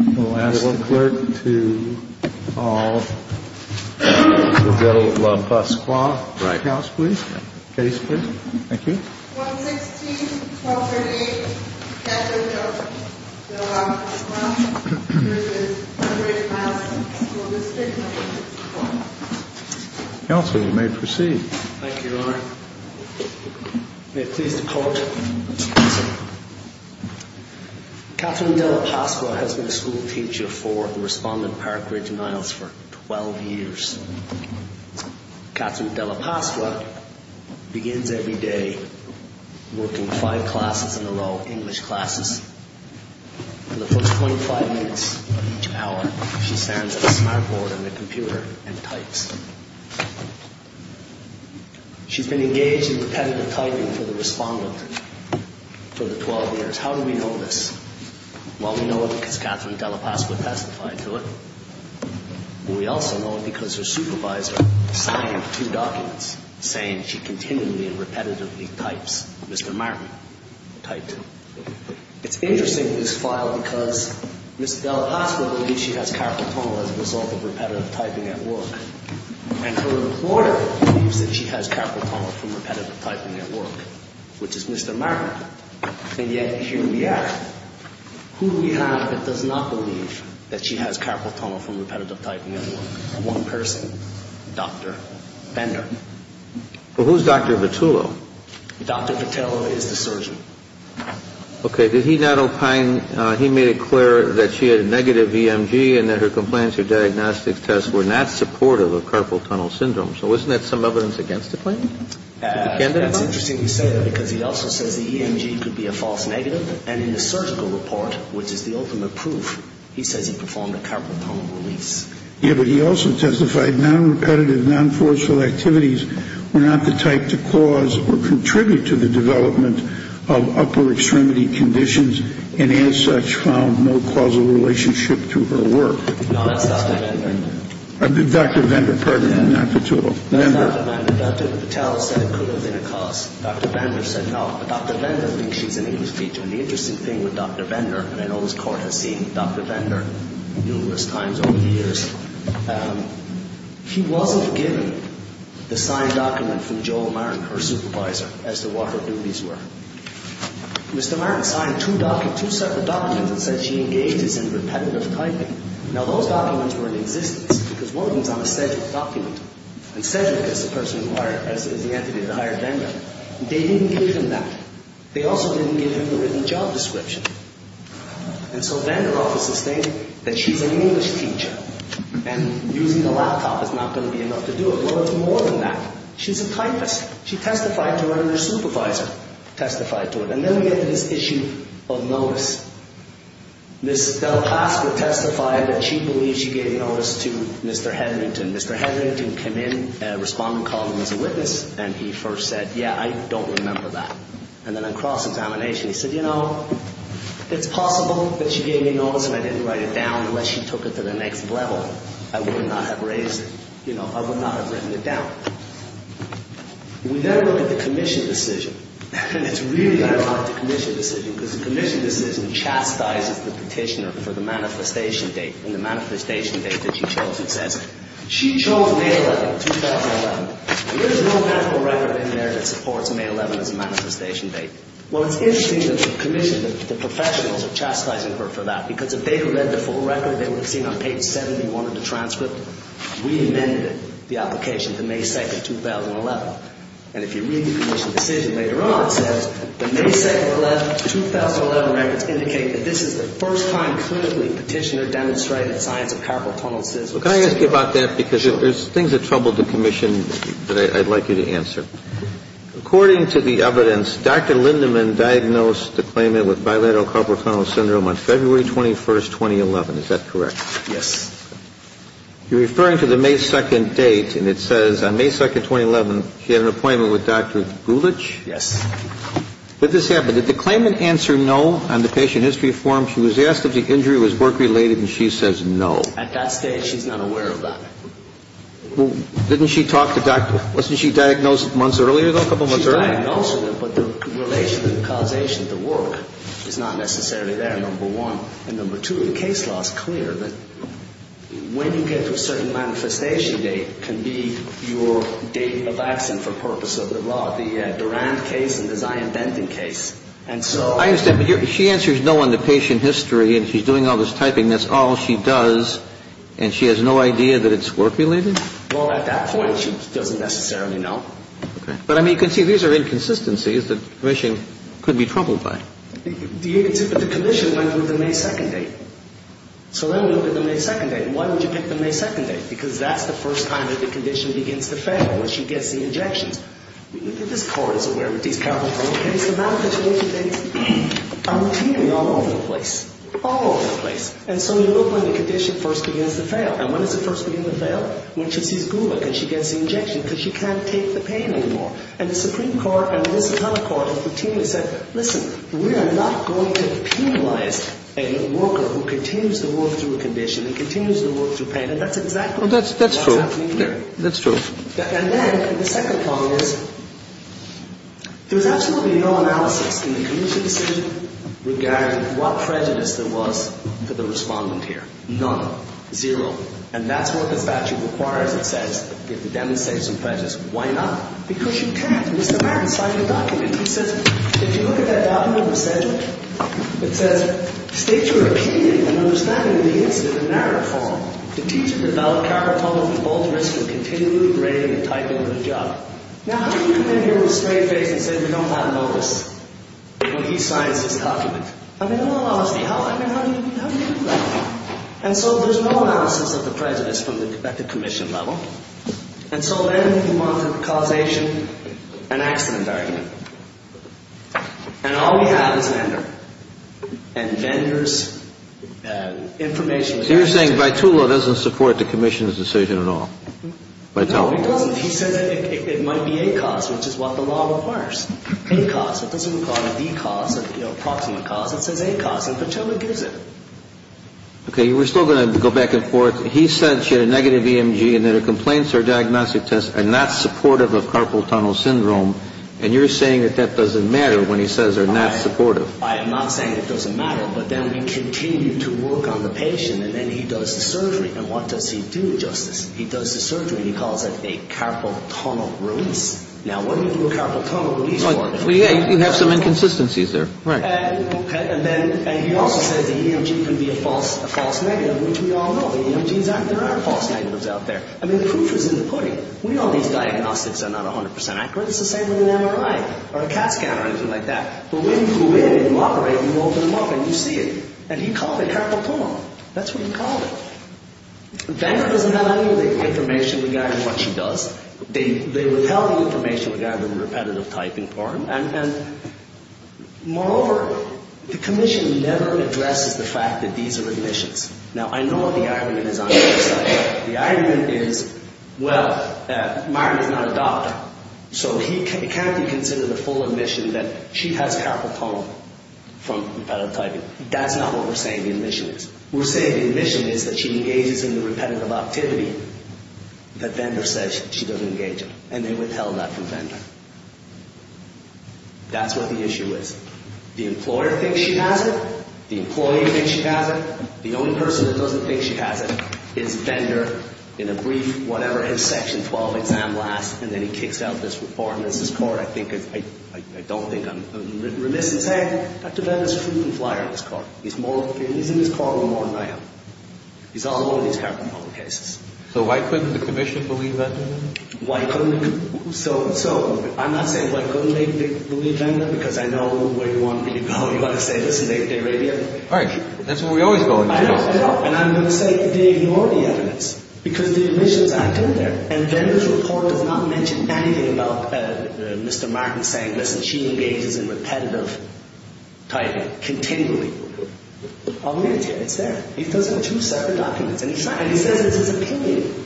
We'll ask the Clerk to call the De La Pasqua House, please. Case, please. Thank you. 116-1238, Catherine De La Pasqua, which is 100 miles from the school district. Counsel, you may proceed. Thank you, Your Honor. May it please the Court. Catherine De La Pasqua has been a school teacher for the Respondent Park Ridge and Isles for 12 years. Catherine De La Pasqua begins every day working five classes in a row, English classes. For the first 25 minutes of each hour, she stands at a smart board on the computer and types. She's been engaged in repetitive typing for the Respondent for the 12 years. How do we know this? Well, we know it because Catherine De La Pasqua testified to it. We also know it because her supervisor signed two documents saying she continually and repetitively types. Mr. Martin typed two. It's interesting, this file, because Ms. De La Pasqua believes she has capital tunnel as a result of repetitive typing at work, and her reporter believes that she has capital tunnel from repetitive typing at work, which is Mr. Martin. And yet, here we are. Who do we have that does not believe that she has capital tunnel from repetitive typing at work? One person, Dr. Bender. Well, who's Dr. Vitullo? Dr. Vitullo is the surgeon. Okay. Did he not opine, he made it clear that she had a negative EMG and that her compliance or diagnostics tests were not supportive of capital tunnel syndrome. So wasn't that some evidence against the claim? That's interesting you say that because he also says the EMG could be a false negative, and in the surgical report, which is the ultimate proof, he says he performed a capital tunnel release. Yeah, but he also testified non-repetitive, non-forceful activities were not the type to cause or contribute to the development of upper extremity conditions, and as such found no causal relationship to her work. No, that's Dr. Bender. Dr. Bender, pardon me, not Vitullo. That's Dr. Bender. Dr. Patel said it could have been a cause. Dr. Bender said no. But Dr. Bender thinks she's an English teacher, and the interesting thing with Dr. Bender, and I know this court has seen Dr. Bender numerous times over the years, he wasn't given the signed document from Jo Martin, her supervisor, as to what her duties were. Mr. Martin signed two separate documents that said she engages in repetitive typing. Now, those documents were in existence because one of them is on a Cedric document, and Cedric, as the person inquired, as the entity that hired Bender, they didn't give him that. They also didn't give him the written job description. And so Bender often sustained that she's an English teacher, and using a laptop is not going to be enough to do it. Well, it's more than that. She's a typist. She testified to it, and her supervisor testified to it. And then we get to this issue of notice. Ms. Del Pasqua testified that she believes she gave notice to Mr. Hedrington. Mr. Hedrington came in, a respondent called him as a witness, and he first said, yeah, I don't remember that. And then on cross-examination, he said, you know, it's possible that she gave me notice and I didn't write it down unless she took it to the next level. I would not have raised it. You know, I would not have written it down. We then look at the commission decision, and it's really ironic, the commission decision, because the commission decision chastises the petitioner for the manifestation date, and the manifestation date that she chose, it says, she chose May 11, 2011. There is no medical record in there that supports May 11 as a manifestation date. Well, it's interesting that the commission, the professionals are chastising her for that, because if they had read the full record, they would have seen on page 71 of the transcript, we amended the application to May 2, 2011. And if you read the commission decision later on, it says, the May 2, 2011 records indicate that this is the first time clinically petitioner demonstrated the science of carpal tunnel syndrome. Well, can I ask you about that? Because there's things that trouble the commission that I'd like you to answer. According to the evidence, Dr. Lindemann diagnosed the claimant with bilateral carpal tunnel syndrome on February 21, 2011. Is that correct? Yes. You're referring to the May 2 date, and it says on May 2, 2011, she had an appointment with Dr. Gulich? Yes. Did this happen? Did the claimant answer no on the patient history form? She was asked if the injury was work-related, and she says no. At that stage, she's not aware of that. Well, didn't she talk to Dr. — wasn't she diagnosed months earlier, though, a couple months earlier? She's diagnosed with it, but the relation to the causation of the work is not necessarily there, number one. And number two, the case law is clear that when you get to a certain manifestation date, it can be your date of accident for purpose of the law, the Durand case and the Zion-Benton case. And so — I understand. But she answers no on the patient history, and she's doing all this typing. That's all she does, and she has no idea that it's work-related? Well, at that point, she doesn't necessarily know. Okay. But, I mean, you can see these are inconsistencies that the Commission could be troubled by. But the Commission went through the May 2 date. So then we look at the May 2 date. Why would you pick the May 2 date? Because that's the first time that the condition begins to fail, when she gets the injections. This Court is aware of these powerful criminal cases. The manifestation dates are repeated all over the place, all over the place. And so you look when the condition first begins to fail. And when does it first begin to fail? When she sees Gulick and she gets the injection, because she can't take the pain anymore. And the Supreme Court and this other Court have continually said, listen, we are not going to penalize a worker who continues to work through a condition and continues to work through pain. And that's exactly what's happening here. That's true. That's true. And then the second point is there's absolutely no analysis in the Commission regarding what prejudice there was for the respondent here. None. Zero. And that's what the statute requires, it says, to demonstrate some prejudice. Why not? Because you can't. Mr. Martin signed a document. He says, if you look at that document, it says, states are opinion and understanding of the incident in narrative form to teach and develop counterpunct of the bold risk of continually degrading and tightening of the job. Now, how do you come in here with a straight face and say we don't have a notice? When he signs this document. I mean, in all honesty, how do you do that? And so there's no analysis of the prejudice at the Commission level. And so then we come on to causation and accident argument. And all we have is vendor. And vendor's information. So you're saying Bytula doesn't support the Commission's decision at all? Bytula? No, he doesn't. He says it might be a cause, which is what the law requires. A cause. It doesn't call it a cause, approximate cause. It says a cause. And Bytula gives it. Okay. We're still going to go back and forth. He said she had a negative EMG and that her complaints or diagnostic tests are not supportive of carpal tunnel syndrome. And you're saying that that doesn't matter when he says they're not supportive. I am not saying it doesn't matter. But then we continue to work on the patient. And then he does the surgery. And what does he do, Justice? He does the surgery. He calls it a carpal tunnel release. Now, what do you do a carpal tunnel release for? Well, yeah, you have some inconsistencies there. Right. And then he also says the EMG can be a false negative, which we all know. The EMGs aren't. There are false negatives out there. I mean, the proof is in the pudding. We know these diagnostics are not 100 percent accurate. It's the same with an MRI or a CAT scan or anything like that. But when you flew in and you operate, you open them up and you see it. And he called it carpal tunnel. That's what he called it. Vendor doesn't have any of the information regarding what she does. They withheld the information regarding the repetitive typing part. And, moreover, the commission never addresses the fact that these are admissions. Now, I know what the argument is on the website. The argument is, well, Martin is not a doctor. So it can't be considered a full admission that she has carpal tunnel from repetitive typing. That's not what we're saying the admission is. We're saying the admission is that she engages in the repetitive activity. The vendor says she doesn't engage in it. And they withheld that from vendor. That's what the issue is. The employer thinks she has it. The employee thinks she has it. The only person that doesn't think she has it is vendor in a brief, whatever, in Section 12 exam last, and then he kicks out this reform. This is court. I don't think I'm remiss in saying Dr. Vendor is a frequent flyer in this court. He's in this court more than I am. He's all over these carpal tunnel cases. So why couldn't the commission believe that? Why couldn't the commission? So I'm not saying why couldn't they believe Vendor because I know where you want me to go. You want to say this is naked Arabia? All right. That's what we always go into. And I'm going to say they ignore the evidence because the admissions aren't in there. And vendor's report does not mention anything about Mr. Martin saying, listen, she engages in repetitive typing continually. It's there. He does it in two separate documents. And he says it's his opinion.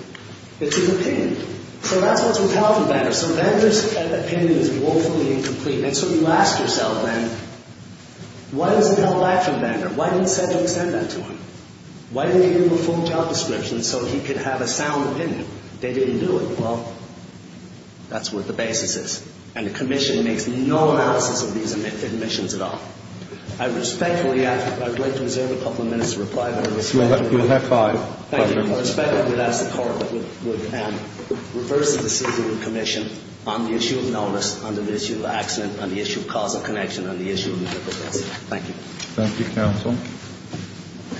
It's his opinion. So that's what's with health and vendor. So vendor's opinion is woefully incomplete. And so you ask yourself, then, why doesn't health lack from vendor? Why didn't the center extend that to him? Why didn't they give him a full job description so he could have a sound opinion? They didn't do it. Well, that's what the basis is. And the commission makes no analysis of these admissions at all. I respectfully ask that I wait to reserve a couple of minutes to reply. You'll have five. Thank you. I respectfully ask the court would reverse the decision of the commission on the issue of nullness, on the issue of accident, on the issue of causal connection, on the issue of duplicity. Thank you. Thank you, counsel.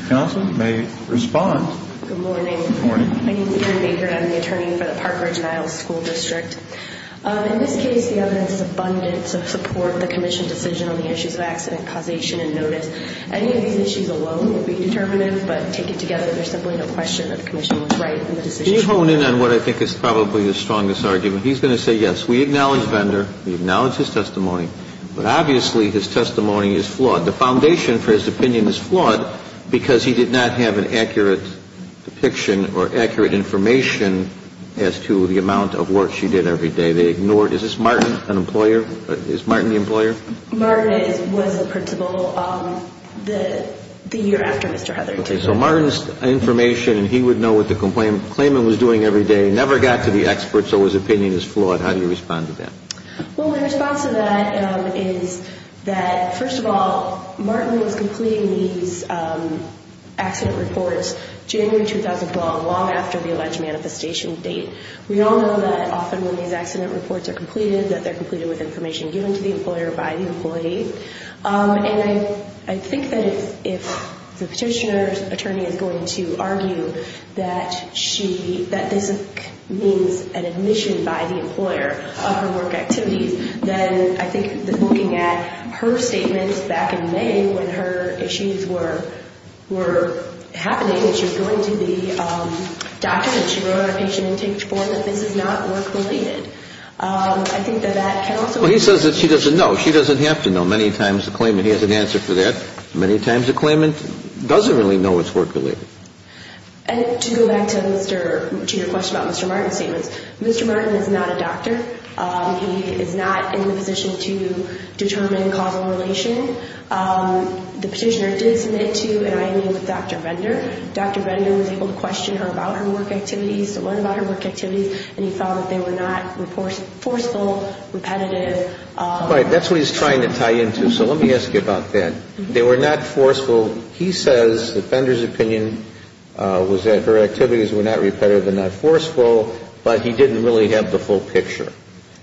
Counsel may respond. Good morning. Good morning. My name is Erin Baker. I'm the attorney for the Park Ridge and Isles School District. In this case, the evidence is abundant to support the commission decision on the issues of accident causation and notice. Any of these issues alone would be determinative, but taken together, there's simply no question that the commission was right in the decision. Can you hone in on what I think is probably the strongest argument? He's going to say yes. We acknowledge vendor. We acknowledge his testimony. But obviously his testimony is flawed. The foundation for his opinion is flawed because he did not have an accurate depiction or accurate information as to the amount of work she did. They ignored it every day. They ignored it. Is this Martin, an employer? Is Martin the employer? Martin was the principal the year after Mr. Heatherty took over. So Martin's information, and he would know what the claimant was doing every day, never got to the expert, so his opinion is flawed. How do you respond to that? Well, my response to that is that, first of all, Martin was completing these accident reports January 2012, long after the alleged manifestation date. We all know that often when these accident reports are completed, that they're completed with information given to the employer by the employee. And I think that if the petitioner's attorney is going to argue that this means an admission by the employer of her work activities, then I think looking at her statements back in May when her issues were happening, that she was going to the doctor that she wrote on her patient intake form, that this is not work-related. I think that that can also be true. Well, he says that she doesn't know. She doesn't have to know. Many times the claimant has an answer for that. Many times the claimant doesn't really know it's work-related. And to go back to your question about Mr. Martin's statements, Mr. Martin is not a doctor. He is not in the position to determine causal relation. The petitioner did submit to an IMU with Dr. Vendor. Dr. Vendor was able to question her about her work activities, to learn about her work activities, and he found that they were not forceful, repetitive. Right. That's what he's trying to tie into. So let me ask you about that. They were not forceful. So he says that Vendor's opinion was that her activities were not repetitive and not forceful, but he didn't really have the full picture.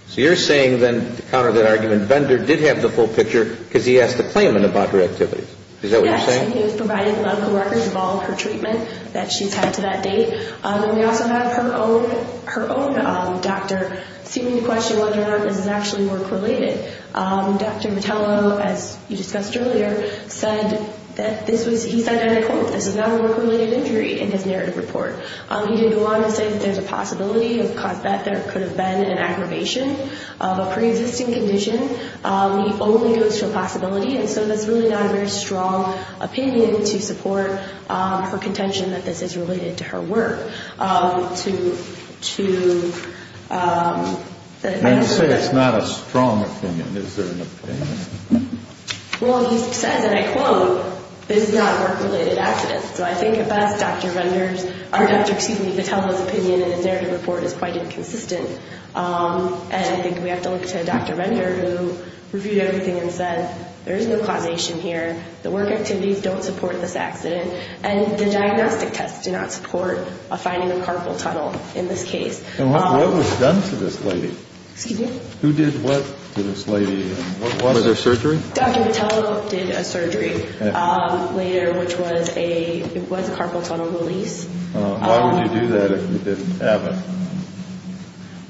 So you're saying then, to counter that argument, Vendor did have the full picture because he asked the claimant about her activities. Is that what you're saying? Yes, and he was providing medical records of all of her treatment that she's had to that date. And we also have her own doctor seeming to question whether or not this is actually work-related. Dr. Mottello, as you discussed earlier, said that this was, he said, and I quote, this is not a work-related injury in his narrative report. He did go on to say that there's a possibility that there could have been an aggravation of a preexisting condition. He only goes to a possibility, and so that's really not a very strong opinion to support her contention that this is related to her work. And to say it's not a strong opinion, is there an opinion? Well, he says, and I quote, this is not a work-related accident. So I think at best, Dr. Vendor's, or Dr. Katelda's opinion in his narrative report is quite inconsistent. And I think we have to look to Dr. Vendor, who reviewed everything and said there is no causation here. The work activities don't support this accident. And the diagnostic tests do not support finding a carpal tunnel in this case. And what was done to this lady? Excuse me? Who did what to this lady? Was there surgery? Dr. Mottello did a surgery later, which was a carpal tunnel release. Why would you do that if you didn't have it?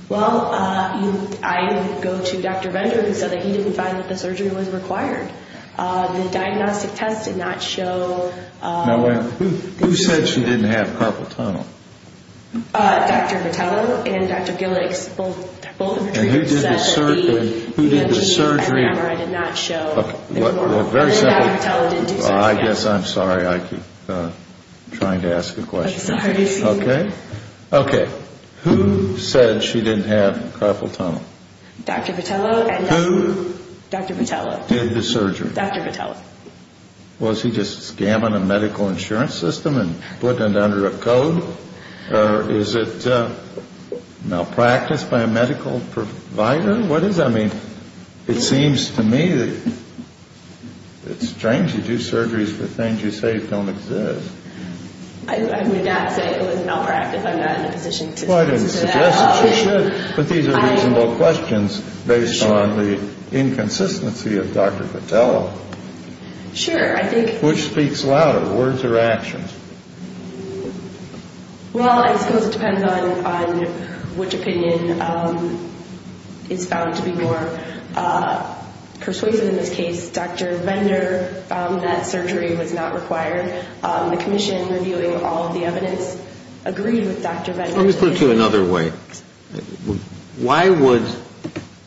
Well, I go to Dr. Vendor who said that he didn't find that the surgery was required. The diagnostic test did not show. Now, who said she didn't have carpal tunnel? Dr. Vendor and Dr. Gillicks, both of the treatments that he mentioned did not show. Well, very simply, I guess I'm sorry. I keep trying to ask a question. I'm sorry to hear that. Okay. Okay. Who said she didn't have carpal tunnel? Dr. Vendor and Dr. Gillicks. Who did the surgery? Dr. Mottello. Was he just scamming a medical insurance system and putting it under a code? Or is it malpractice by a medical provider? What is that? I mean, it seems to me that it's strange. You do surgeries for things you say don't exist. I would not say it was malpractice. I'm not in a position to say that. Well, I didn't suggest that you should. But these are reasonable questions based on the inconsistency of Dr. Mottello. Sure. Which speaks louder, words or actions? Well, I suppose it depends on which opinion is found to be more persuasive. In this case, Dr. Vendor found that surgery was not required. The commission, reviewing all of the evidence, agreed with Dr. Vendor. Let me put it to you another way. Why would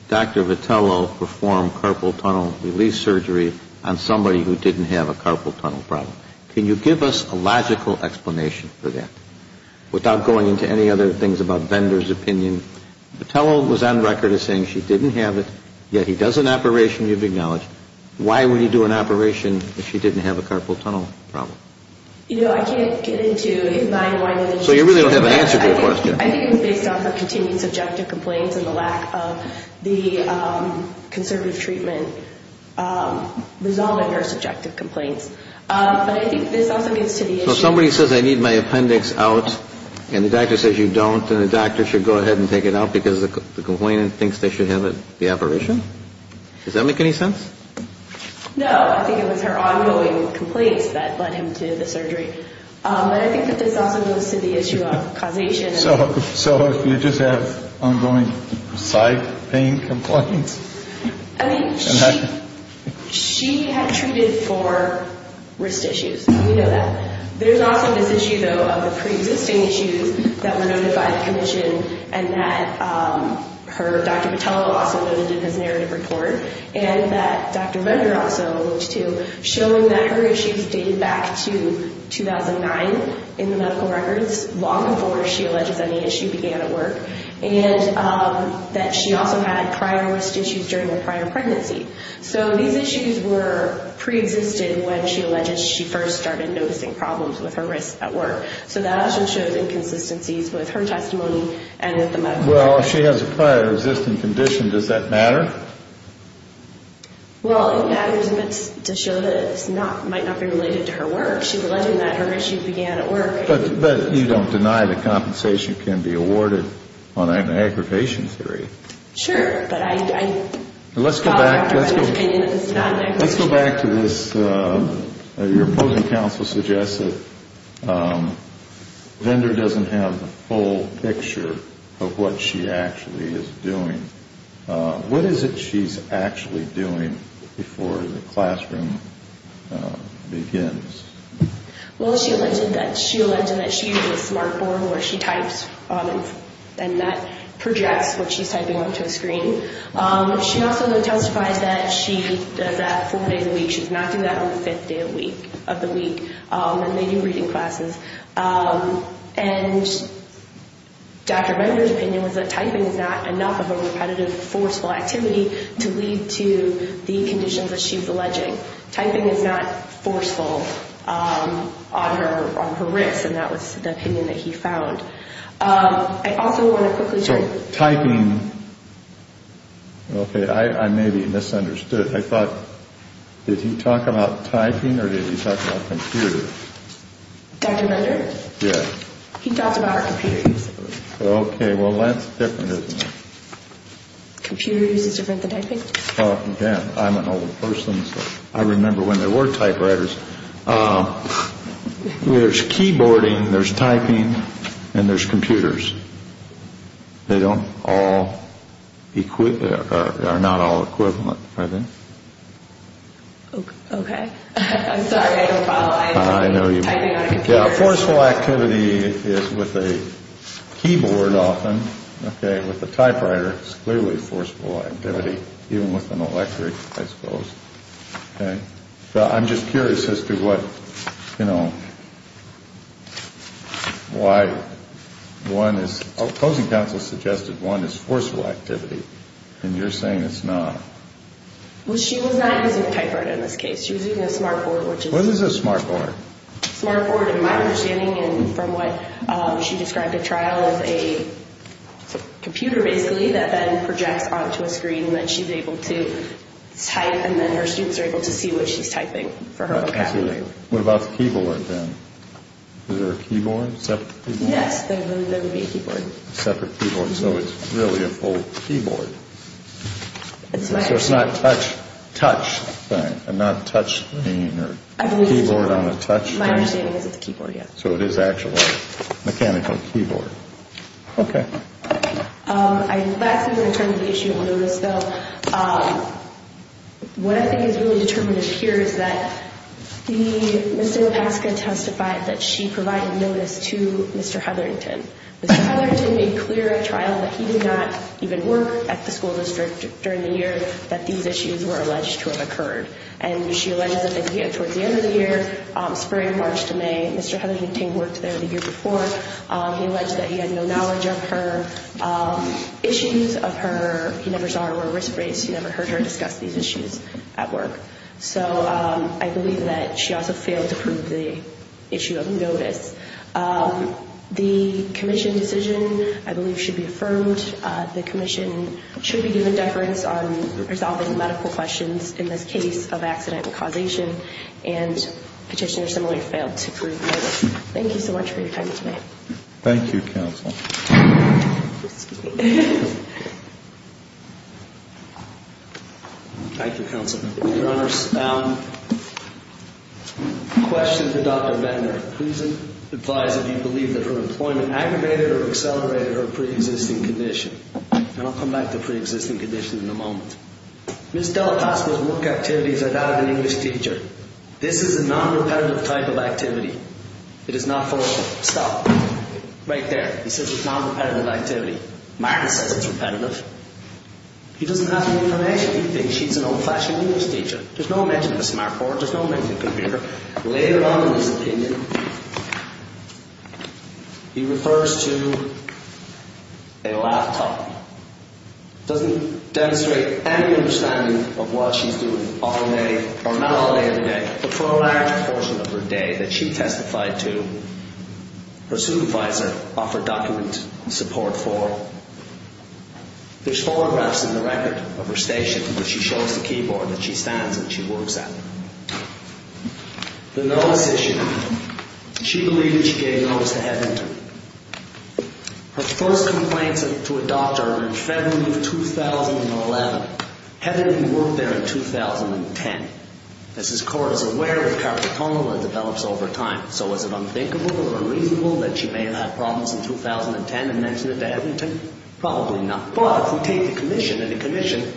Dr. Vitello perform carpal tunnel release surgery on somebody who didn't have a carpal tunnel problem? Can you give us a logical explanation for that? Without going into any other things about Vendor's opinion, Vitello was on record as saying she didn't have it, yet he does an operation you've acknowledged. Why would he do an operation if she didn't have a carpal tunnel problem? You know, I can't get into why that is. So you really don't have an answer to your question. I think it's based on her continued subjective complaints and the lack of the conservative treatment resolving her subjective complaints. But I think this also leads to the issue of... So if somebody says I need my appendix out and the doctor says you don't, then the doctor should go ahead and take it out because the complainant thinks they should have the operation? Does that make any sense? I think it was her ongoing complaints that led him to the surgery. But I think that this also goes to the issue of causation. So you just have ongoing side pain complaints? I mean, she had treated for wrist issues. We know that. There's also this issue, though, of the preexisting issues that were noted by the commission and that Dr. Vitello also noted in his narrative report, and that Dr. Bender also alluded to, showing that her issues dated back to 2009 in the medical records, long before she alleges any issue began at work, and that she also had prior wrist issues during her prior pregnancy. So these issues were preexisted when she alleges she first started noticing problems with her wrists at work. So that also shows inconsistencies with her testimony and with the medical records. Well, if she has a prior existing condition, does that matter? Well, it matters to show that it might not be related to her work. She's alleging that her issue began at work. But you don't deny that compensation can be awarded on an aggravation theory. Sure, but I doubt Dr. Vitello's opinion that this is not an aggravation theory. Let's go back to this. Your opposing counsel suggests that Bender doesn't have the full picture of what she actually is doing. What is it she's actually doing before the classroom begins? Well, she alleged that she uses a smart board where she types, and that projects what she's typing onto a screen. She also testified that she does that four days a week. She does not do that on the fifth day of the week when they do reading classes. And Dr. Bender's opinion was that typing is not enough of a repetitive, forceful activity to lead to the conditions that she's alleging. Typing is not forceful on her wrists, and that was the opinion that he found. I also want to quickly say... So typing... Okay, I may be misunderstood. I thought, did he talk about typing or did he talk about computers? Dr. Bender? Yes. He talked about computers. Okay, well, that's different, isn't it? Computers is different than typing? Oh, yeah, I'm an old person, so I remember when there were typewriters. There's keyboarding, there's typing, and there's computers. They don't all... They are not all equivalent, are they? Okay. I'm sorry, I don't follow. I know you... Typing on a computer... Yeah, forceful activity is with a keyboard often, okay, with a typewriter. It's clearly forceful activity, even with an electric, I suppose. Okay, well, I'm just curious as to what, you know, why one is... Closing counsel suggested one is forceful activity, and you're saying it's not. Well, she was not using a typewriter in this case. She was using a smart board, which is... What is a smart board? A smart board, in my understanding, and from what she described at trial, it's a computer, basically, that then projects onto a screen that she's able to type, and then her students are able to see what she's typing for her vocabulary. Absolutely. What about the keyboard, then? Is there a keyboard, separate keyboard? Yes, there would be a keyboard. A separate keyboard, so it's really a full keyboard. It's my understanding. So it's not a touch thing, a not-touch thing, or a keyboard on a touch thing? My understanding is it's a keyboard, yes. So it is actually a mechanical keyboard. Okay. Lastly, in terms of the issue of notice, though, what I think is really determinative here is that Ms. Zinopaska testified that she provided notice to Mr. Hetherington. Mr. Hetherington made clear at trial that he did not even work at the school district during the year that these issues were alleged to have occurred, and she alleged that towards the end of the year, spring, March to May, Mr. Hetherington worked there the year before. He alleged that he had no knowledge of her issues, of her, he never saw her wear a wrist brace, he never heard her discuss these issues at work. So I believe that she also failed to prove the issue of notice. The commission decision, I believe, should be affirmed. The commission should be given deference on resolving medical questions in this case of accident and petitioner similarly failed to prove notice. Thank you so much for your time tonight. Thank you, counsel. Excuse me. Thank you, counsel. Your Honors, a question to Dr. Venter. Please advise if you believe that her employment aggravated or accelerated her preexisting condition. And I'll come back to preexisting conditions in a moment. Ms. DelaPaz's work activities are that of an English teacher. This is a non-repetitive type of activity. It is not forceful. Stop. Right there. He says it's a non-repetitive activity. Martin says it's repetitive. He doesn't have any information. He thinks she's an old-fashioned English teacher. There's no mention of a smart board. There's no mention of a computer. Later on in his opinion, he refers to a laptop. Doesn't demonstrate any understanding of what she's doing all day, or not all day of the day, but for a large portion of her day that she testified to, her supervisor offered document support for. There's photographs in the record of her station where she shows the keyboard that she stands and she works at. The notice issue. She believed that she gave notice to Ed Venter. Her first complaints to a doctor are in February of 2011. Had Ed Venter worked there in 2010? As his court is aware, with carpal tunnel, it develops over time. So is it unthinkable or unreasonable that she may have had problems in 2010 and mentioned it to Ed Venter? Probably not. But if we take the commission, and the commission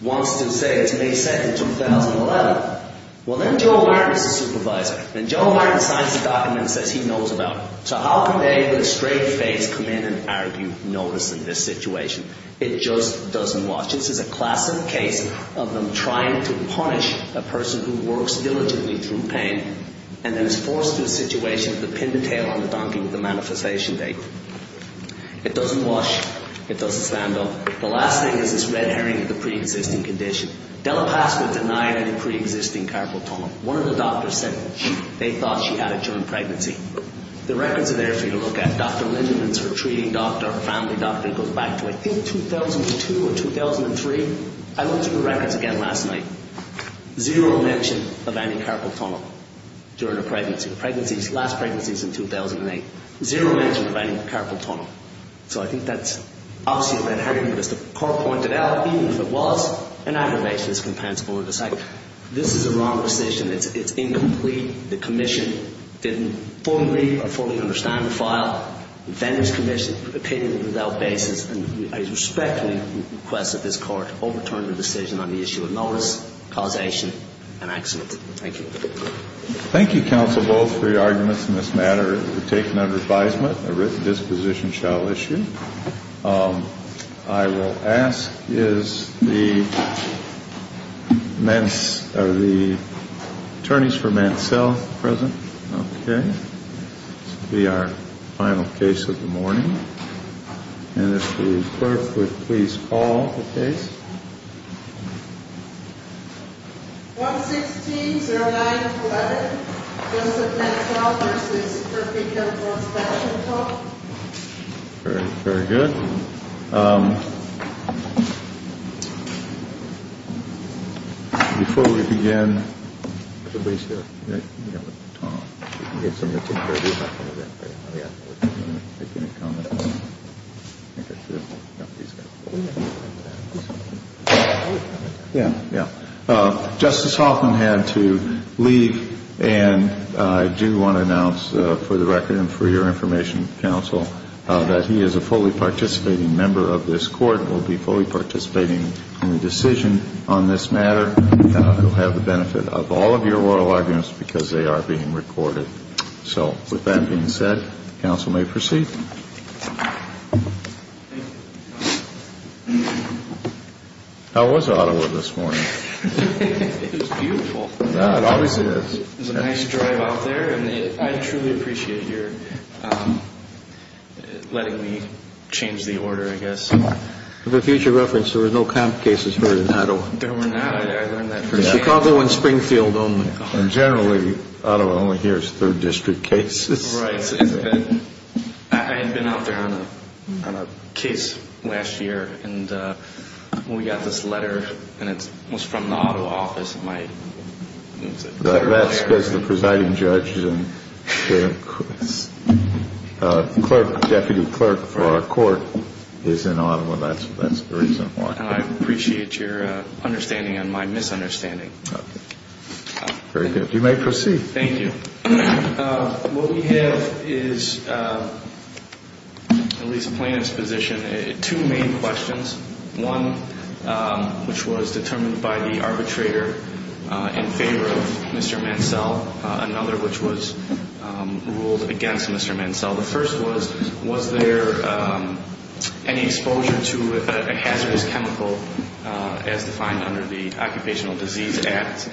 wants to say it's May 2, 2011, well, then Joe Martin's the supervisor, and Joe Martin signs the document and says he knows about it. So how can they with a straight face come in and argue notice in this situation? It just doesn't wash. This is a classic case of them trying to punish a person who works diligently through pain and then is forced to a situation of the pin the tail on the donkey with the manifestation date. It doesn't wash. It doesn't stand up. The last thing is this red herring of the pre-existing condition. Della Pasqua denied any pre-existing carpal tunnel. One of the doctors said they thought she had a joint pregnancy. The records are there for you to look at. Dr. Lindeman is her treating doctor, her family doctor, and goes back to, I think, 2002 or 2003. I looked through the records again last night. Zero mention of any carpal tunnel during her pregnancy. The last pregnancy is in 2008. Zero mention of any carpal tunnel. So I think that's obviously a red herring, but as the court pointed out, even if it was, an aggravation is compensable with the site. This is a wrong decision. It's incomplete. The commission didn't fully or fully understand the file. Defenders commission opinion without basis. And I respectfully request that this court overturn the decision on the issue of notice, causation, and accident. Thank you. Thank you, counsel, both for your arguments in this matter. You've taken under advisement. A written disposition shall issue. I will ask, are the attorneys for Mansell present? Okay. This will be our final case of the morning. And if the clerk would please call the case. 116-09-11. Joseph Mansell v. Kirk Vigil for inspection call. Very, very good. Before we begin. Everybody's here. Justice Hoffman had to leave. And I do want to announce for the record and for your information, counsel, that he is a fully participating member of this court and will be fully participating in the decision on this matter. He'll have the benefit of all of your oral arguments because they are being recorded. So with that being said, counsel may proceed. How was Ottawa this morning? It was beautiful. It obviously is. It was a nice drive out there, and I truly appreciate your letting me change the order, I guess. For future reference, there were no comp cases heard in Ottawa. No, there were not. I learned that firsthand. Chicago and Springfield only. And generally, Ottawa only hears third district cases. Right. I had been out there on a case last year, and we got this letter, and it was from the Ottawa office. That's because the presiding judge and the deputy clerk for our court is in Ottawa. That's the reason why. And I appreciate your understanding and my misunderstanding. Very good. You may proceed. Thank you. What we have is, at least in plain exposition, two main questions. One, which was determined by the arbitrator in favor of Mr. Mansell. Another, which was ruled against Mr. Mansell. The first was, was there any exposure to a hazardous chemical as defined under the Occupational Disease Act?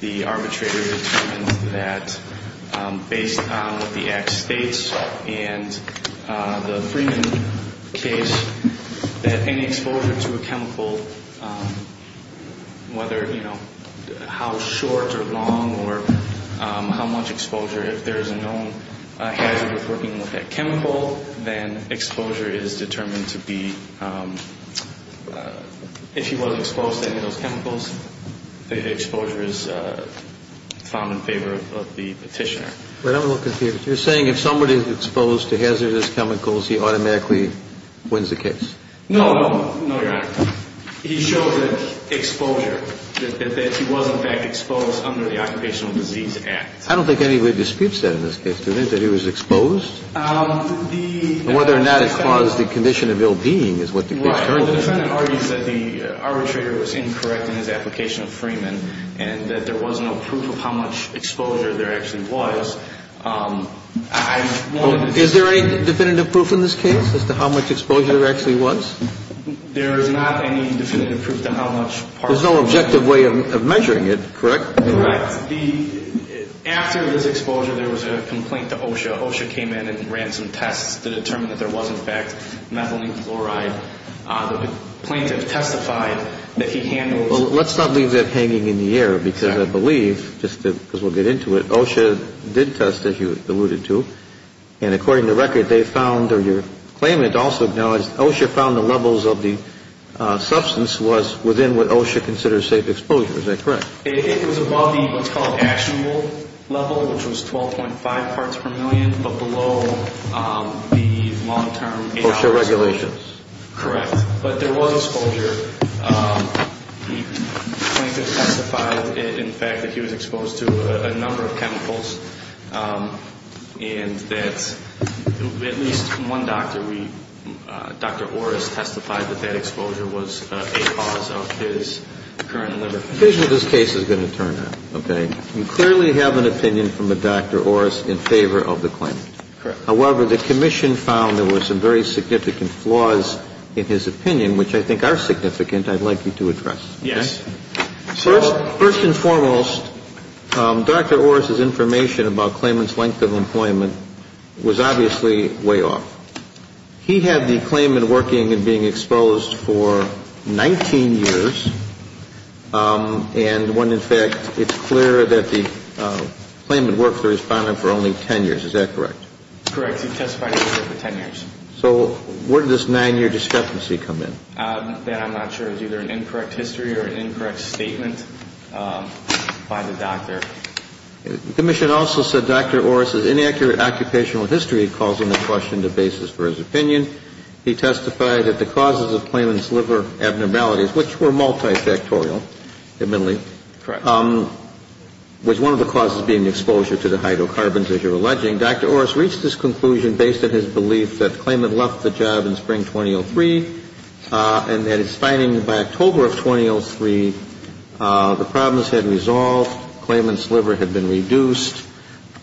The arbitrator determined that, based on what the Act states and the Freeman case, that any exposure to a chemical, whether, you know, how short or long or how much exposure, if there is a known hazard of working with that chemical, then exposure is determined to be, if he was exposed to any of those chemicals, the exposure is found in favor of the petitioner. You're saying if somebody is exposed to hazardous chemicals, he automatically wins the case? No, no, no, Your Honor. He showed that exposure, that he was, in fact, exposed under the Occupational Disease Act. I don't think anybody disputes that in this case. Do you think that he was exposed? The defendant argues that the arbitrator was incorrect in his application of Freeman and that there was no proof of how much exposure there actually was. Is there any definitive proof in this case as to how much exposure there actually was? There is not any definitive proof to how much part of it was. There's no objective way of measuring it, correct? Correct. After this exposure, there was a complaint to OSHA. OSHA came in and ran some tests to determine that there was, in fact, methylene chloride. The plaintiff testified that he handled. Well, let's not leave that hanging in the air because I believe, just because we'll get into it, OSHA did test, as you alluded to, and according to record, they found, or your claimant also acknowledged, OSHA found the levels of the substance was within what OSHA considers safe exposure. Is that correct? It was above the what's called actionable level, which was 12.5 parts per million, but below the long-term. OSHA regulations. Correct. But there was exposure. The plaintiff testified, in fact, that he was exposed to a number of chemicals and that at least one doctor, Dr. Orris, testified that that exposure was a cause of his current liver condition. The conclusion of this case is going to turn out, okay? You clearly have an opinion from a Dr. Orris in favor of the claimant. Correct. However, the commission found there were some very significant flaws in his opinion, which I think are significant I'd like you to address. Yes. First and foremost, Dr. Orris' information about claimant's length of employment was obviously way off. He had the claimant working and being exposed for 19 years, and when, in fact, it's clear that the claimant worked for the respondent for only 10 years. Is that correct? Correct. He testified for 10 years. So where did this nine-year discrepancy come in? That I'm not sure is either an incorrect history or an incorrect statement by the doctor. The commission also said Dr. Orris' inaccurate occupational history calls into question the basis for his opinion. He testified that the causes of claimant's liver abnormalities, which were multifactorial, admittedly, was one of the causes being exposure to the hydrocarbons, as you're alleging. Dr. Orris reached this conclusion based on his belief that the claimant left the job in spring 2003 and that his finding by October of 2003, the problems had resolved, claimant's liver had been reduced.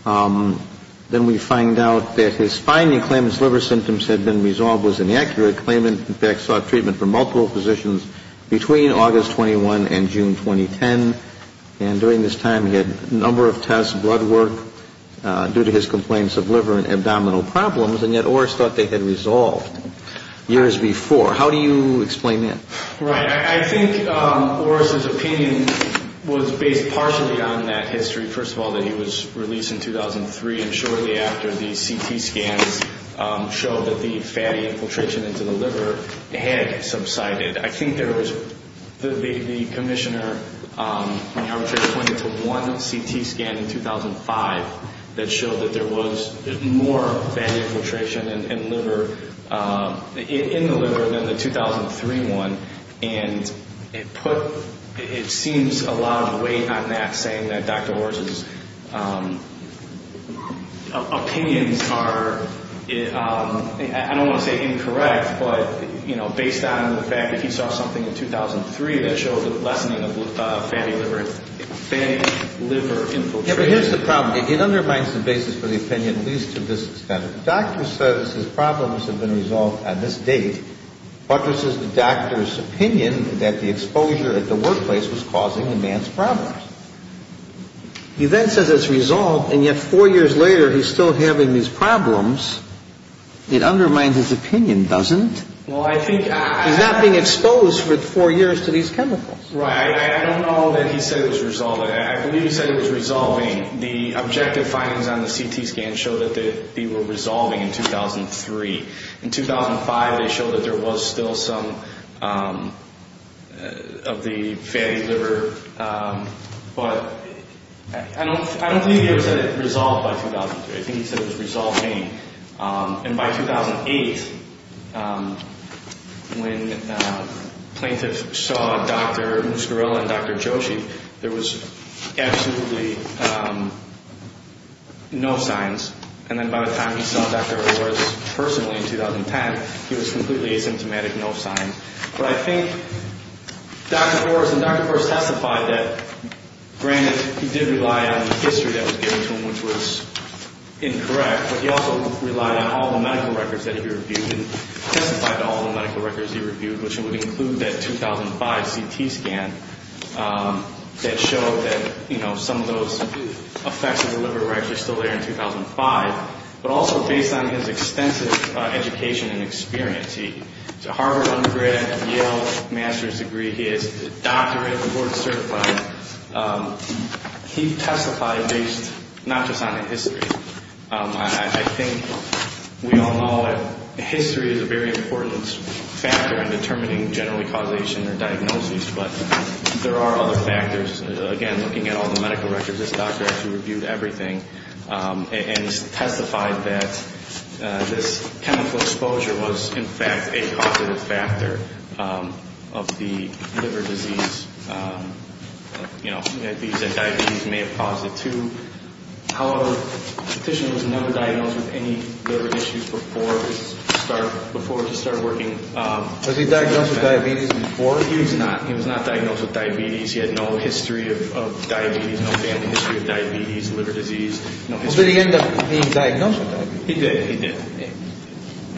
Then we find out that his finding claimant's liver symptoms had been resolved was inaccurate. Claimant, in fact, sought treatment for multiple positions between August 21 and June 2010, and during this time he had a number of tests, blood work due to his complaints of liver and abdominal problems, and yet Orris thought they had resolved. Years before. How do you explain that? Right. I think Orris' opinion was based partially on that history, first of all, that he was released in 2003, and shortly after the CT scans showed that the fatty infiltration into the liver had subsided. I think there was, the commissioner pointed to one CT scan in 2005 that showed that there was more fatty infiltration in the liver than the 2003 one, and it put, it seems a lot of weight on that, saying that Dr. Orris' opinions are, I don't want to say incorrect, but, you know, based on the fact that he saw something in 2003 that showed the lessening of fatty liver infiltration. Yeah, but here's the problem. It undermines the basis for the opinion at least to this extent. The doctor says his problems have been resolved at this date, but this is the doctor's opinion that the exposure at the workplace was causing the man's problems. He then says it's resolved, and yet four years later he's still having these problems. It undermines his opinion, doesn't it? He's not being exposed for four years to these chemicals. Right. I don't know that he said it was resolved. I believe he said it was resolving. The objective findings on the CT scan show that they were resolving in 2003. In 2005 they showed that there was still some of the fatty liver, but I don't think he said it was resolved by 2003. I think he said it was resolving. And by 2008, when plaintiffs saw Dr. Muscarella and Dr. Joshi, there was absolutely no signs. And then by the time he saw Dr. Horace personally in 2010, he was completely asymptomatic, no signs. But I think Dr. Horace testified that, granted, he did rely on the history that was given to him, which was incorrect, but he also relied on all the medical records that he reviewed and testified to all the medical records he reviewed, which would include that 2005 CT scan that showed that, you know, some of those effects of the liver were actually still there in 2005, but also based on his extensive education and experience. He has a Harvard undergrad, a Yale master's degree. He has a doctorate, a board certified. And he testified based not just on the history. I think we all know that history is a very important factor in determining generally causation or diagnosis, but there are other factors. Again, looking at all the medical records, this doctor actually reviewed everything and testified that this chemical exposure was, in fact, a causative factor of the liver disease. You know, diabetes may have caused it too. However, the patient was never diagnosed with any liver issues before his start, before he started working. Was he diagnosed with diabetes before? He was not. He was not diagnosed with diabetes. He had no history of diabetes, no family history of diabetes, liver disease. So did he end up being diagnosed with diabetes? He did. He did.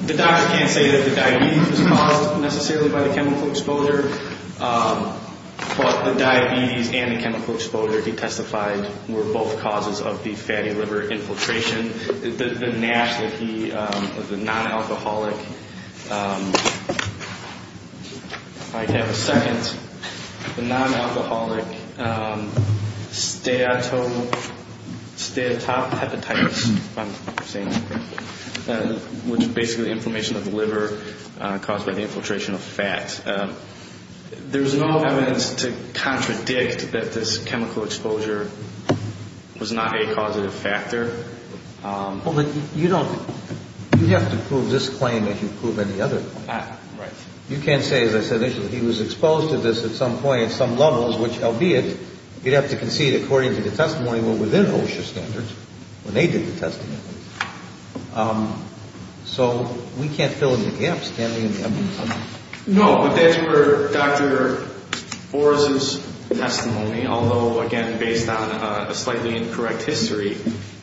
The doctor can't say that the diabetes was caused necessarily by the chemical exposure, but the diabetes and the chemical exposure, he testified, were both causes of the fatty liver infiltration. The NASH that he, the non-alcoholic, if I can have a second, the non-alcoholic steatotype hepatitis, which is basically inflammation of the liver caused by the infiltration of fat. There was no evidence to contradict that this chemical exposure was not a causative factor. Well, you don't, you'd have to prove this claim if you prove any other claim. Right. You can't say, as I said initially, he was exposed to this at some point, at some levels, which, albeit, you'd have to concede according to the testimony within OSHA standards, when they did the testing. So we can't fill in the gaps, can we, in the evidence? No, but that's where Dr. Boris' testimony, although, again, based on a slightly incorrect history,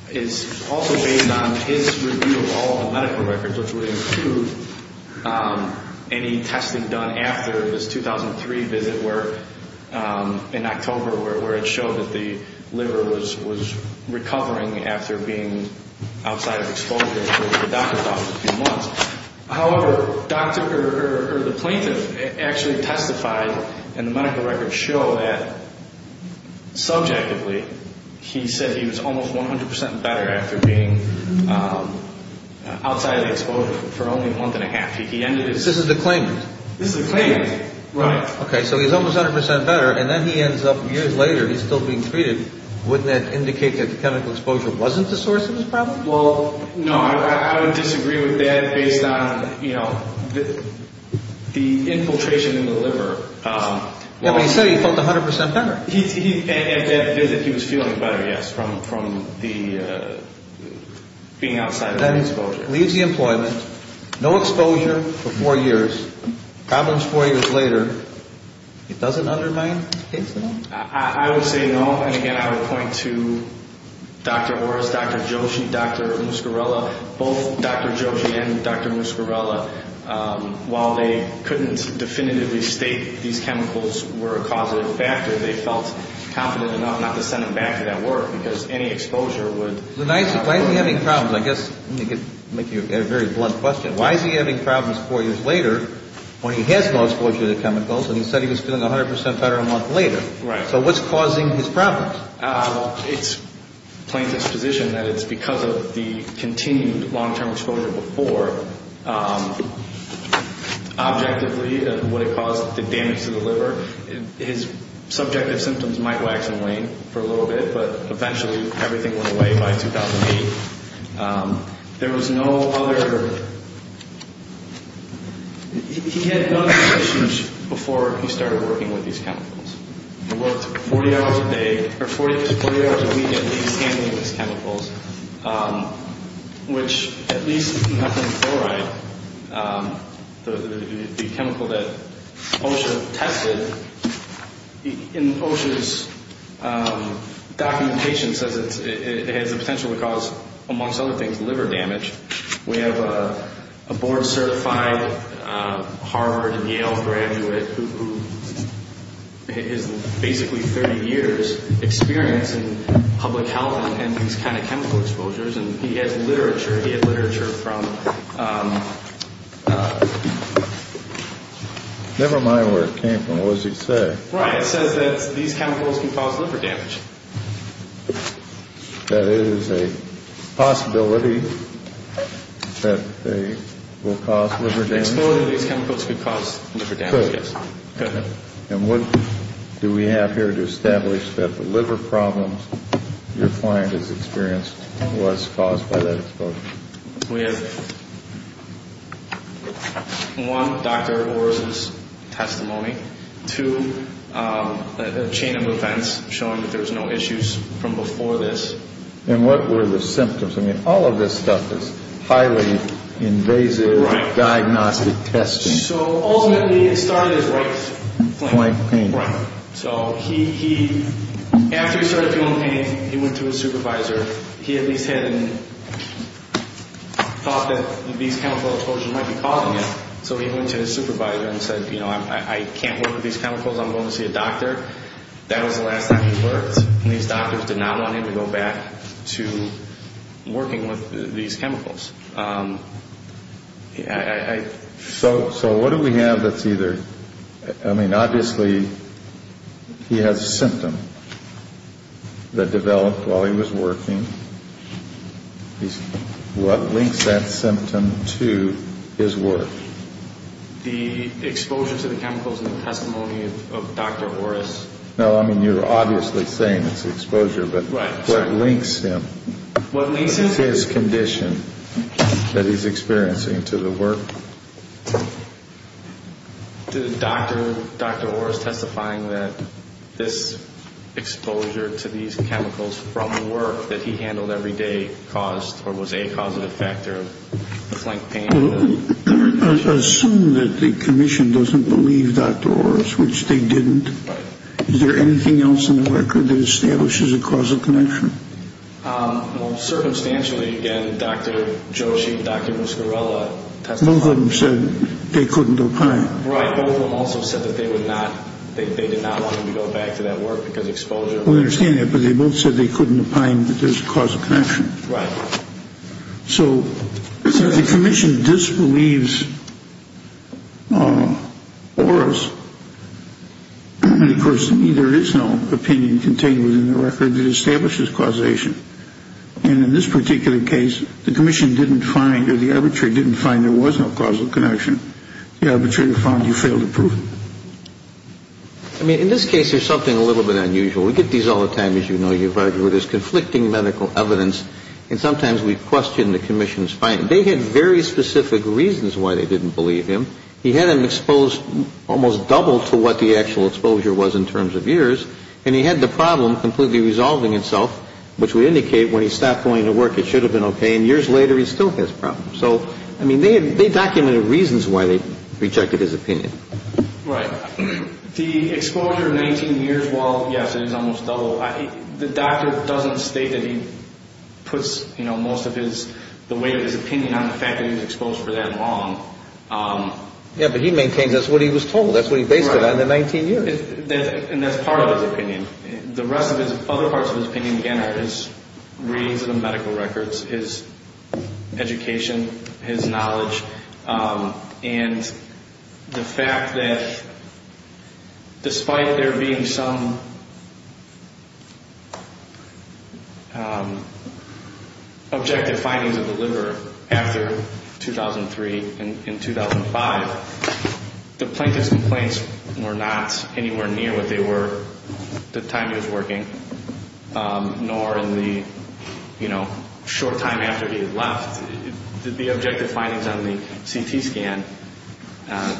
is also based on his review of all the medical records, which would include any testing done after his 2003 visit where, in October, where it showed that the liver was recovering after being outside of exposure for a few months. However, the plaintiff actually testified, and the medical records show that, subjectively, he said he was almost 100% better after being outside of the exposure for only a month and a half. He ended his... This is a claimant. This is a claimant. Right. Okay, so he's almost 100% better, and then he ends up, years later, he's still being treated. Wouldn't that indicate that the chemical exposure wasn't the source of his problem? Well, no. I would disagree with that based on, you know, the infiltration in the liver. Yeah, but he said he felt 100% better. At that visit, he was feeling better, yes, from being outside of the exposure. Then he leaves the employment, no exposure for four years, problems four years later. It doesn't undermine his case at all? I would say no, and, again, I would point to Dr. Horace, Dr. Joshi, Dr. Muscarella. Both Dr. Joshi and Dr. Muscarella, while they couldn't definitively state these chemicals were a causative factor, they felt confident enough not to send him back to that work because any exposure would... Why is he having problems? I guess I'm going to make you a very blunt question. Why is he having problems four years later when he has no exposure to the chemicals, and he said he was feeling 100% better a month later? Right. So what's causing his problems? Well, it's plain disposition that it's because of the continued long-term exposure before. Objectively, would it cause the damage to the liver? His subjective symptoms might wax and wane for a little bit, but eventually everything went away by 2008. There was no other... He had no other issues before he started working with these chemicals. He worked 40 hours a day, or 40 hours a week, at least, handling these chemicals, which, at least enough in chloride, the chemical that OSHA tested, in OSHA's documentation says it has the potential to cause, amongst other things, liver damage. We have a board-certified Harvard and Yale graduate who has basically 30 years' experience in public health and these kind of chemical exposures, and he has literature. He had literature from... What does he say? Right. It says that these chemicals can cause liver damage. That it is a possibility that they will cause liver damage? Exposure to these chemicals could cause liver damage, yes. Good. And what do we have here to establish that the liver problems your client has experienced was caused by that exposure? We have one, Dr. Orr's testimony. Two, a chain of events showing that there was no issues from before this. And what were the symptoms? I mean, all of this stuff is highly invasive diagnostic testing. Ultimately, it started as right flank pain. Right flank pain. Thought that these chemical exposures might be causing it, so he went to his supervisor and said, you know, I can't work with these chemicals. I'm going to see a doctor. That was the last time he worked, and these doctors did not want him to go back to working with these chemicals. So what do we have that's either... I mean, obviously, he has a symptom that developed while he was working. What links that symptom to his work? The exposure to the chemicals in the testimony of Dr. Orr's. No, I mean, you're obviously saying it's exposure, but what links him? What links him? His condition that he's experiencing to the work. Did Dr. Orr's testifying that this exposure to these chemicals from work that he handled every day caused or was a causative factor of the flank pain? Assume that the commission doesn't believe Dr. Orr's, which they didn't. Right. Is there anything else in the record that establishes a causal connection? Well, circumstantially, again, Dr. Joshi, Dr. Muscarella... Both of them said they couldn't opine. Right. Both of them also said that they did not want him to go back to that work because exposure... We understand that, but they both said they couldn't opine that there's a causal connection. Right. So if the commission disbelieves Orr's, then, of course, there is no opinion contained within the record that establishes causation. And in this particular case, the commission didn't find or the arbitrator didn't find there was no causal connection. The arbitrator found he failed to prove it. I mean, in this case, there's something a little bit unusual. We get these all the time, as you know, you, Roger, where there's conflicting medical evidence, and sometimes we question the commission's finding. They had very specific reasons why they didn't believe him. He had him exposed almost double to what the actual exposure was in terms of years, and he had the problem completely resolving itself, which would indicate when he stopped going to work it should have been okay, and years later he still has problems. So, I mean, they documented reasons why they rejected his opinion. Right. The exposure of 19 years, while, yes, it is almost double, the doctor doesn't state that he puts, you know, most of his... Yeah, but he maintains that's what he was told. That's what he based it on, the 19 years. Right. And that's part of his opinion. The rest of his... Other parts of his opinion, again, are his readings of the medical records, his education, his knowledge, and the fact that despite there being some objective findings of the liver after 2003 and 2005, the plaintiff's complaints were not anywhere near what they were at the time he was working, nor in the, you know, short time after he had left. Did the objective findings on the CT scan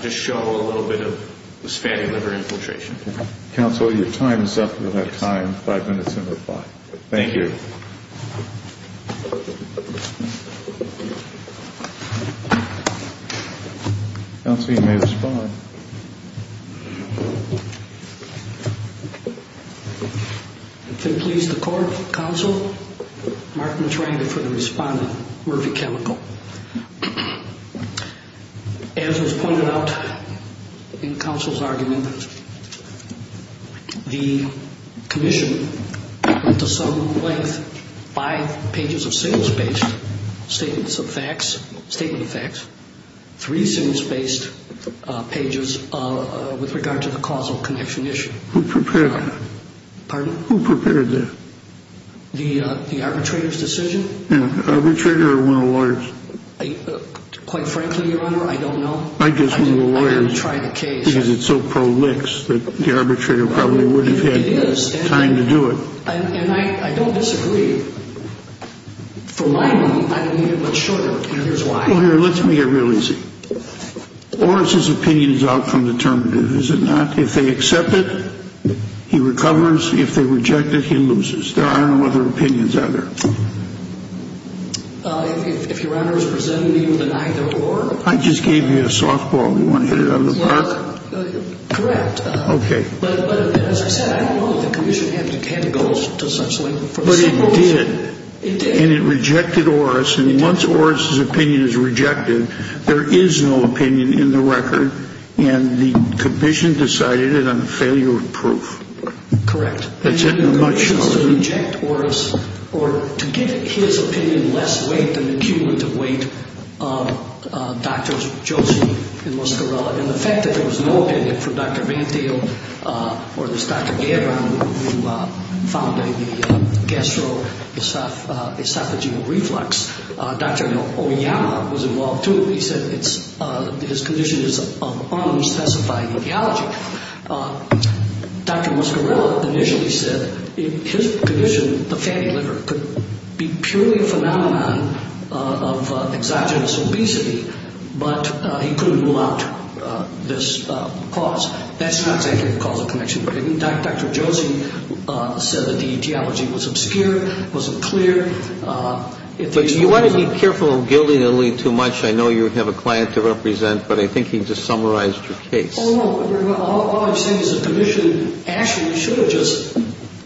just show a little bit of this fatty liver infiltration? Counsel, your time is up. You'll have time, five minutes to reply. Thank you. Counsel, you may respond. Thank you. If it pleases the court, counsel, I'm marking the triangle for the respondent, Murphy Chemical. As was pointed out in counsel's argument, the commission went to some length five pages of single-spaced statements of facts, statement of facts, three single-spaced pages with regard to the causal connection issue. Who prepared that? Pardon? Who prepared that? The arbitrator's decision? Yeah. The arbitrator or one of the lawyers? Quite frankly, Your Honor, I don't know. I guess one of the lawyers. I didn't try the case. Because it's so pro-lix that the arbitrator probably wouldn't have had time to do it. It is. And I don't disagree. For my money, I don't need it much shorter, and here's why. Well, here, let's make it real easy. Oris's opinion is outcome-determinative, is it not? If they accept it, he recovers. If they reject it, he loses. There are no other opinions out there. If Your Honor is presenting me with an either-or? I just gave you a softball. Do you want to hit it out of the park? Correct. Okay. But as I said, I don't know that the commission had to go to such length. But it did. It did. And it rejected Oris. And once Oris's opinion is rejected, there is no opinion in the record, and the commission decided it on the failure of proof. Correct. That's it. And the commission has to reject Oris or to give his opinion less weight, an accumulative weight, of Drs. Joseph and Muscarella. And the fact that there was no opinion from Dr. Vente or this Dr. Oyama was involved, too, he said his condition is un-specified etiology. Dr. Muscarella initially said his condition, the fatty liver, could be purely a phenomenon of exogenous obesity, but he couldn't rule out this cause. That's not exactly the cause of connection. Dr. Joseph said that the etiology was obscure, wasn't clear. But you want to be careful of gilding the lead too much. I know you have a client to represent, but I think he just summarized your case. Oh, no. All I'm saying is the commission actually should have just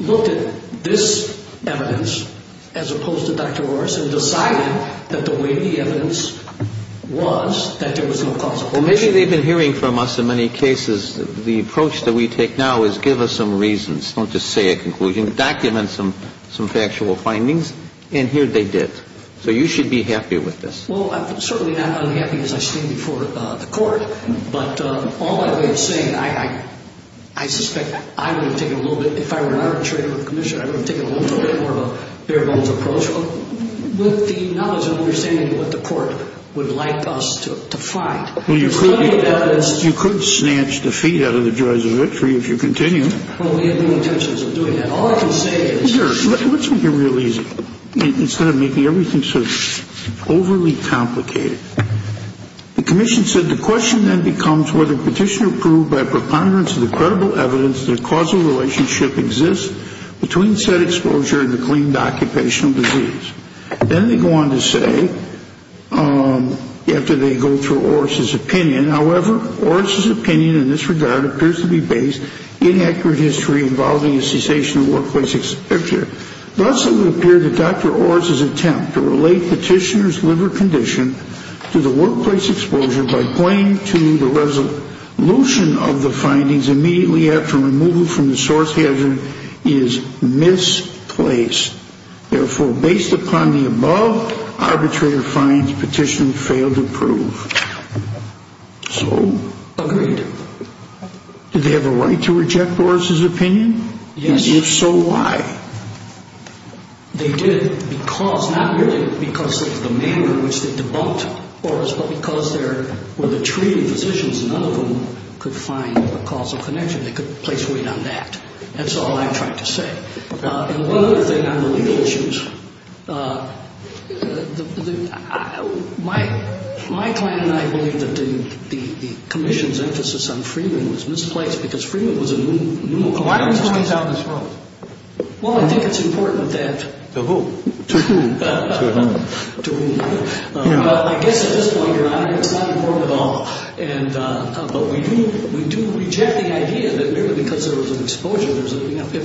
looked at this evidence as opposed to Dr. Oris and decided that the way the evidence was, that there was no causal connection. Well, maybe they've been hearing from us in many cases, the approach that we take now is give us some reasons. Don't just say a conclusion. Document some factual findings. And here they did. So you should be happy with this. Well, I'm certainly not unhappy as I stand before the court. But all that I'm saying, I suspect I would have taken a little bit, if I were not a traitor to the commission, I would have taken a little bit more of a bare-bones approach. With the knowledge and understanding of what the court would like us to find. Well, you could snatch the feet out of the jaws of victory if you continue. Well, we have no intentions of doing that. All I can say is. Here, let's make it real easy. Instead of making everything so overly complicated. The commission said the question then becomes whether petition approved by preponderance of the credible evidence that a causal relationship exists between said exposure and the claimed occupational disease. Then they go on to say, after they go through Oris's opinion, however, Oris's opinion in this regard appears to be based in accurate history involving a cessation of workplace exposure. Thus, it would appear that Dr. Oris's attempt to relate petitioner's liver condition to the workplace exposure by pointing to the resolution of the findings immediately after removal from the source hazard is misplaced. Therefore, based upon the above, arbitrator finds petitioner failed to prove. So? Agreed. Did they have a right to reject Oris's opinion? Yes. And if so, why? They did because, not merely because of the manner in which they debunked Oris, but because they were the treating physicians. None of them could find a causal connection. They couldn't place weight on that. That's all I tried to say. Okay. And one other thing on the legal issues. My client and I believe that the commission's emphasis on Freeman was misplaced because Freeman was a new company. Why didn't he squeeze out his vote? Well, I think it's important that... To whom? To whom? To whom? Well, I guess at this point, Your Honor, it's not important at all. But we do reject the idea that merely because there was an exposure, there's a connection. They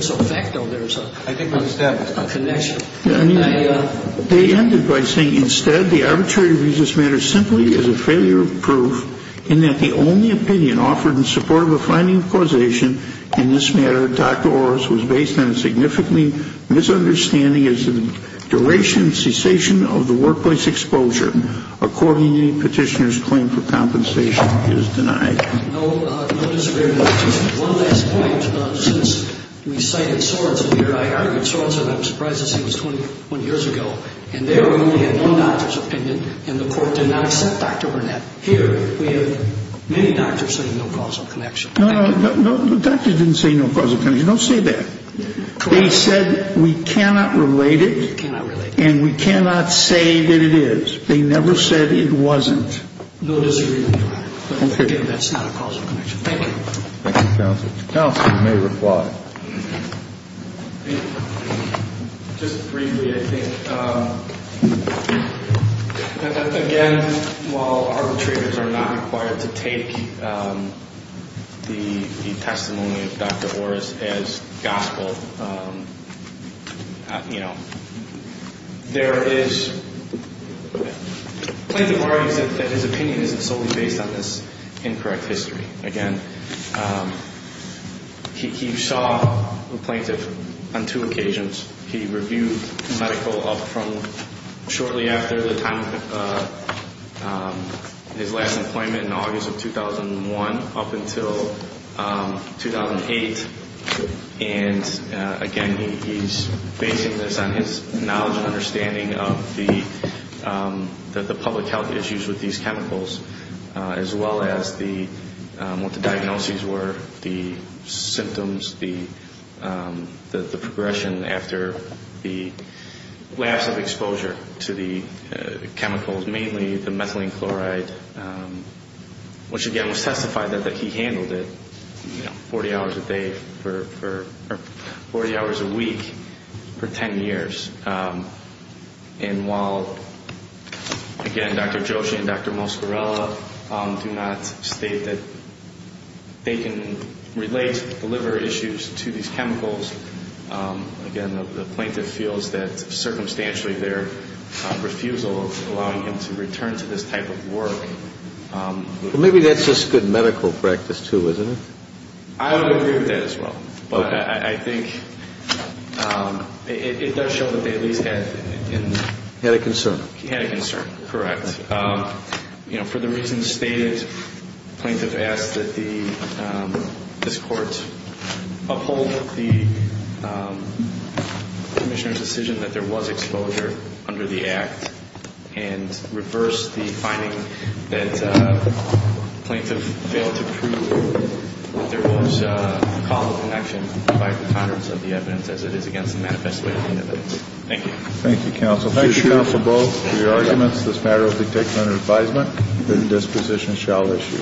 ended by saying, Instead, the arbitrary of this matter simply is a failure of proof in that the only opinion offered in support of a finding of causation in this matter, Dr. Oris was based on a significantly misunderstanding as to the duration and cessation of the workplace exposure. Accordingly, petitioner's claim for compensation is denied. No disagreement. And just one last point. Since we cited Sorensen here, I argued Sorensen. I'm surprised to see he was 20 years ago. And there we only had one doctor's opinion, and the court did not accept Dr. Burnett. Here we have many doctors saying no causal connection. No, no. The doctors didn't say no causal connection. Don't say that. They said we cannot relate it. We cannot relate it. And we cannot say that it is. They never said it wasn't. No disagreement, Your Honor. Okay. But again, that's not a causal connection. Thank you. Thank you, counsel. Counsel may reply. Just briefly, I think, again, while arbitrators are not required to take the testimony of Dr. Oris as gospel, you know, there is plaintiff argues that his opinion isn't solely based on this incorrect history. Again, he saw the plaintiff on two occasions. He reviewed medical up from shortly after the time of his last employment in August of 2001 up until 2008. And, again, he's basing this on his knowledge and understanding of the public health issues with these chemicals, as well as what the diagnoses were, the symptoms, the progression after the lapse of exposure to the chemicals, mainly the methylene chloride, which, again, was testified that he handled it 40 hours a day for 40 hours a week for 10 years. And while, again, Dr. Joshi and Dr. Moscarella do not state that they can relate the liver issues to these chemicals, again, the plaintiff feels that, circumstantially, their refusal of allowing him to return to this type of work. Well, maybe that's just good medical practice, too, isn't it? I would agree with that as well. But I think it does show that they at least had a concern. He had a concern, correct. You know, for the reasons stated, plaintiff asks that this court uphold the commissioner's decision that there was exposure under the act and reverse the finding that plaintiff failed to prove that there was a causal connection by the confidence of the evidence, as it is against the manifest within the evidence. Thank you. Thank you, counsel. Thank you, counsel, both, for your arguments. This matter will be taken under advisement. The disposition shall issue.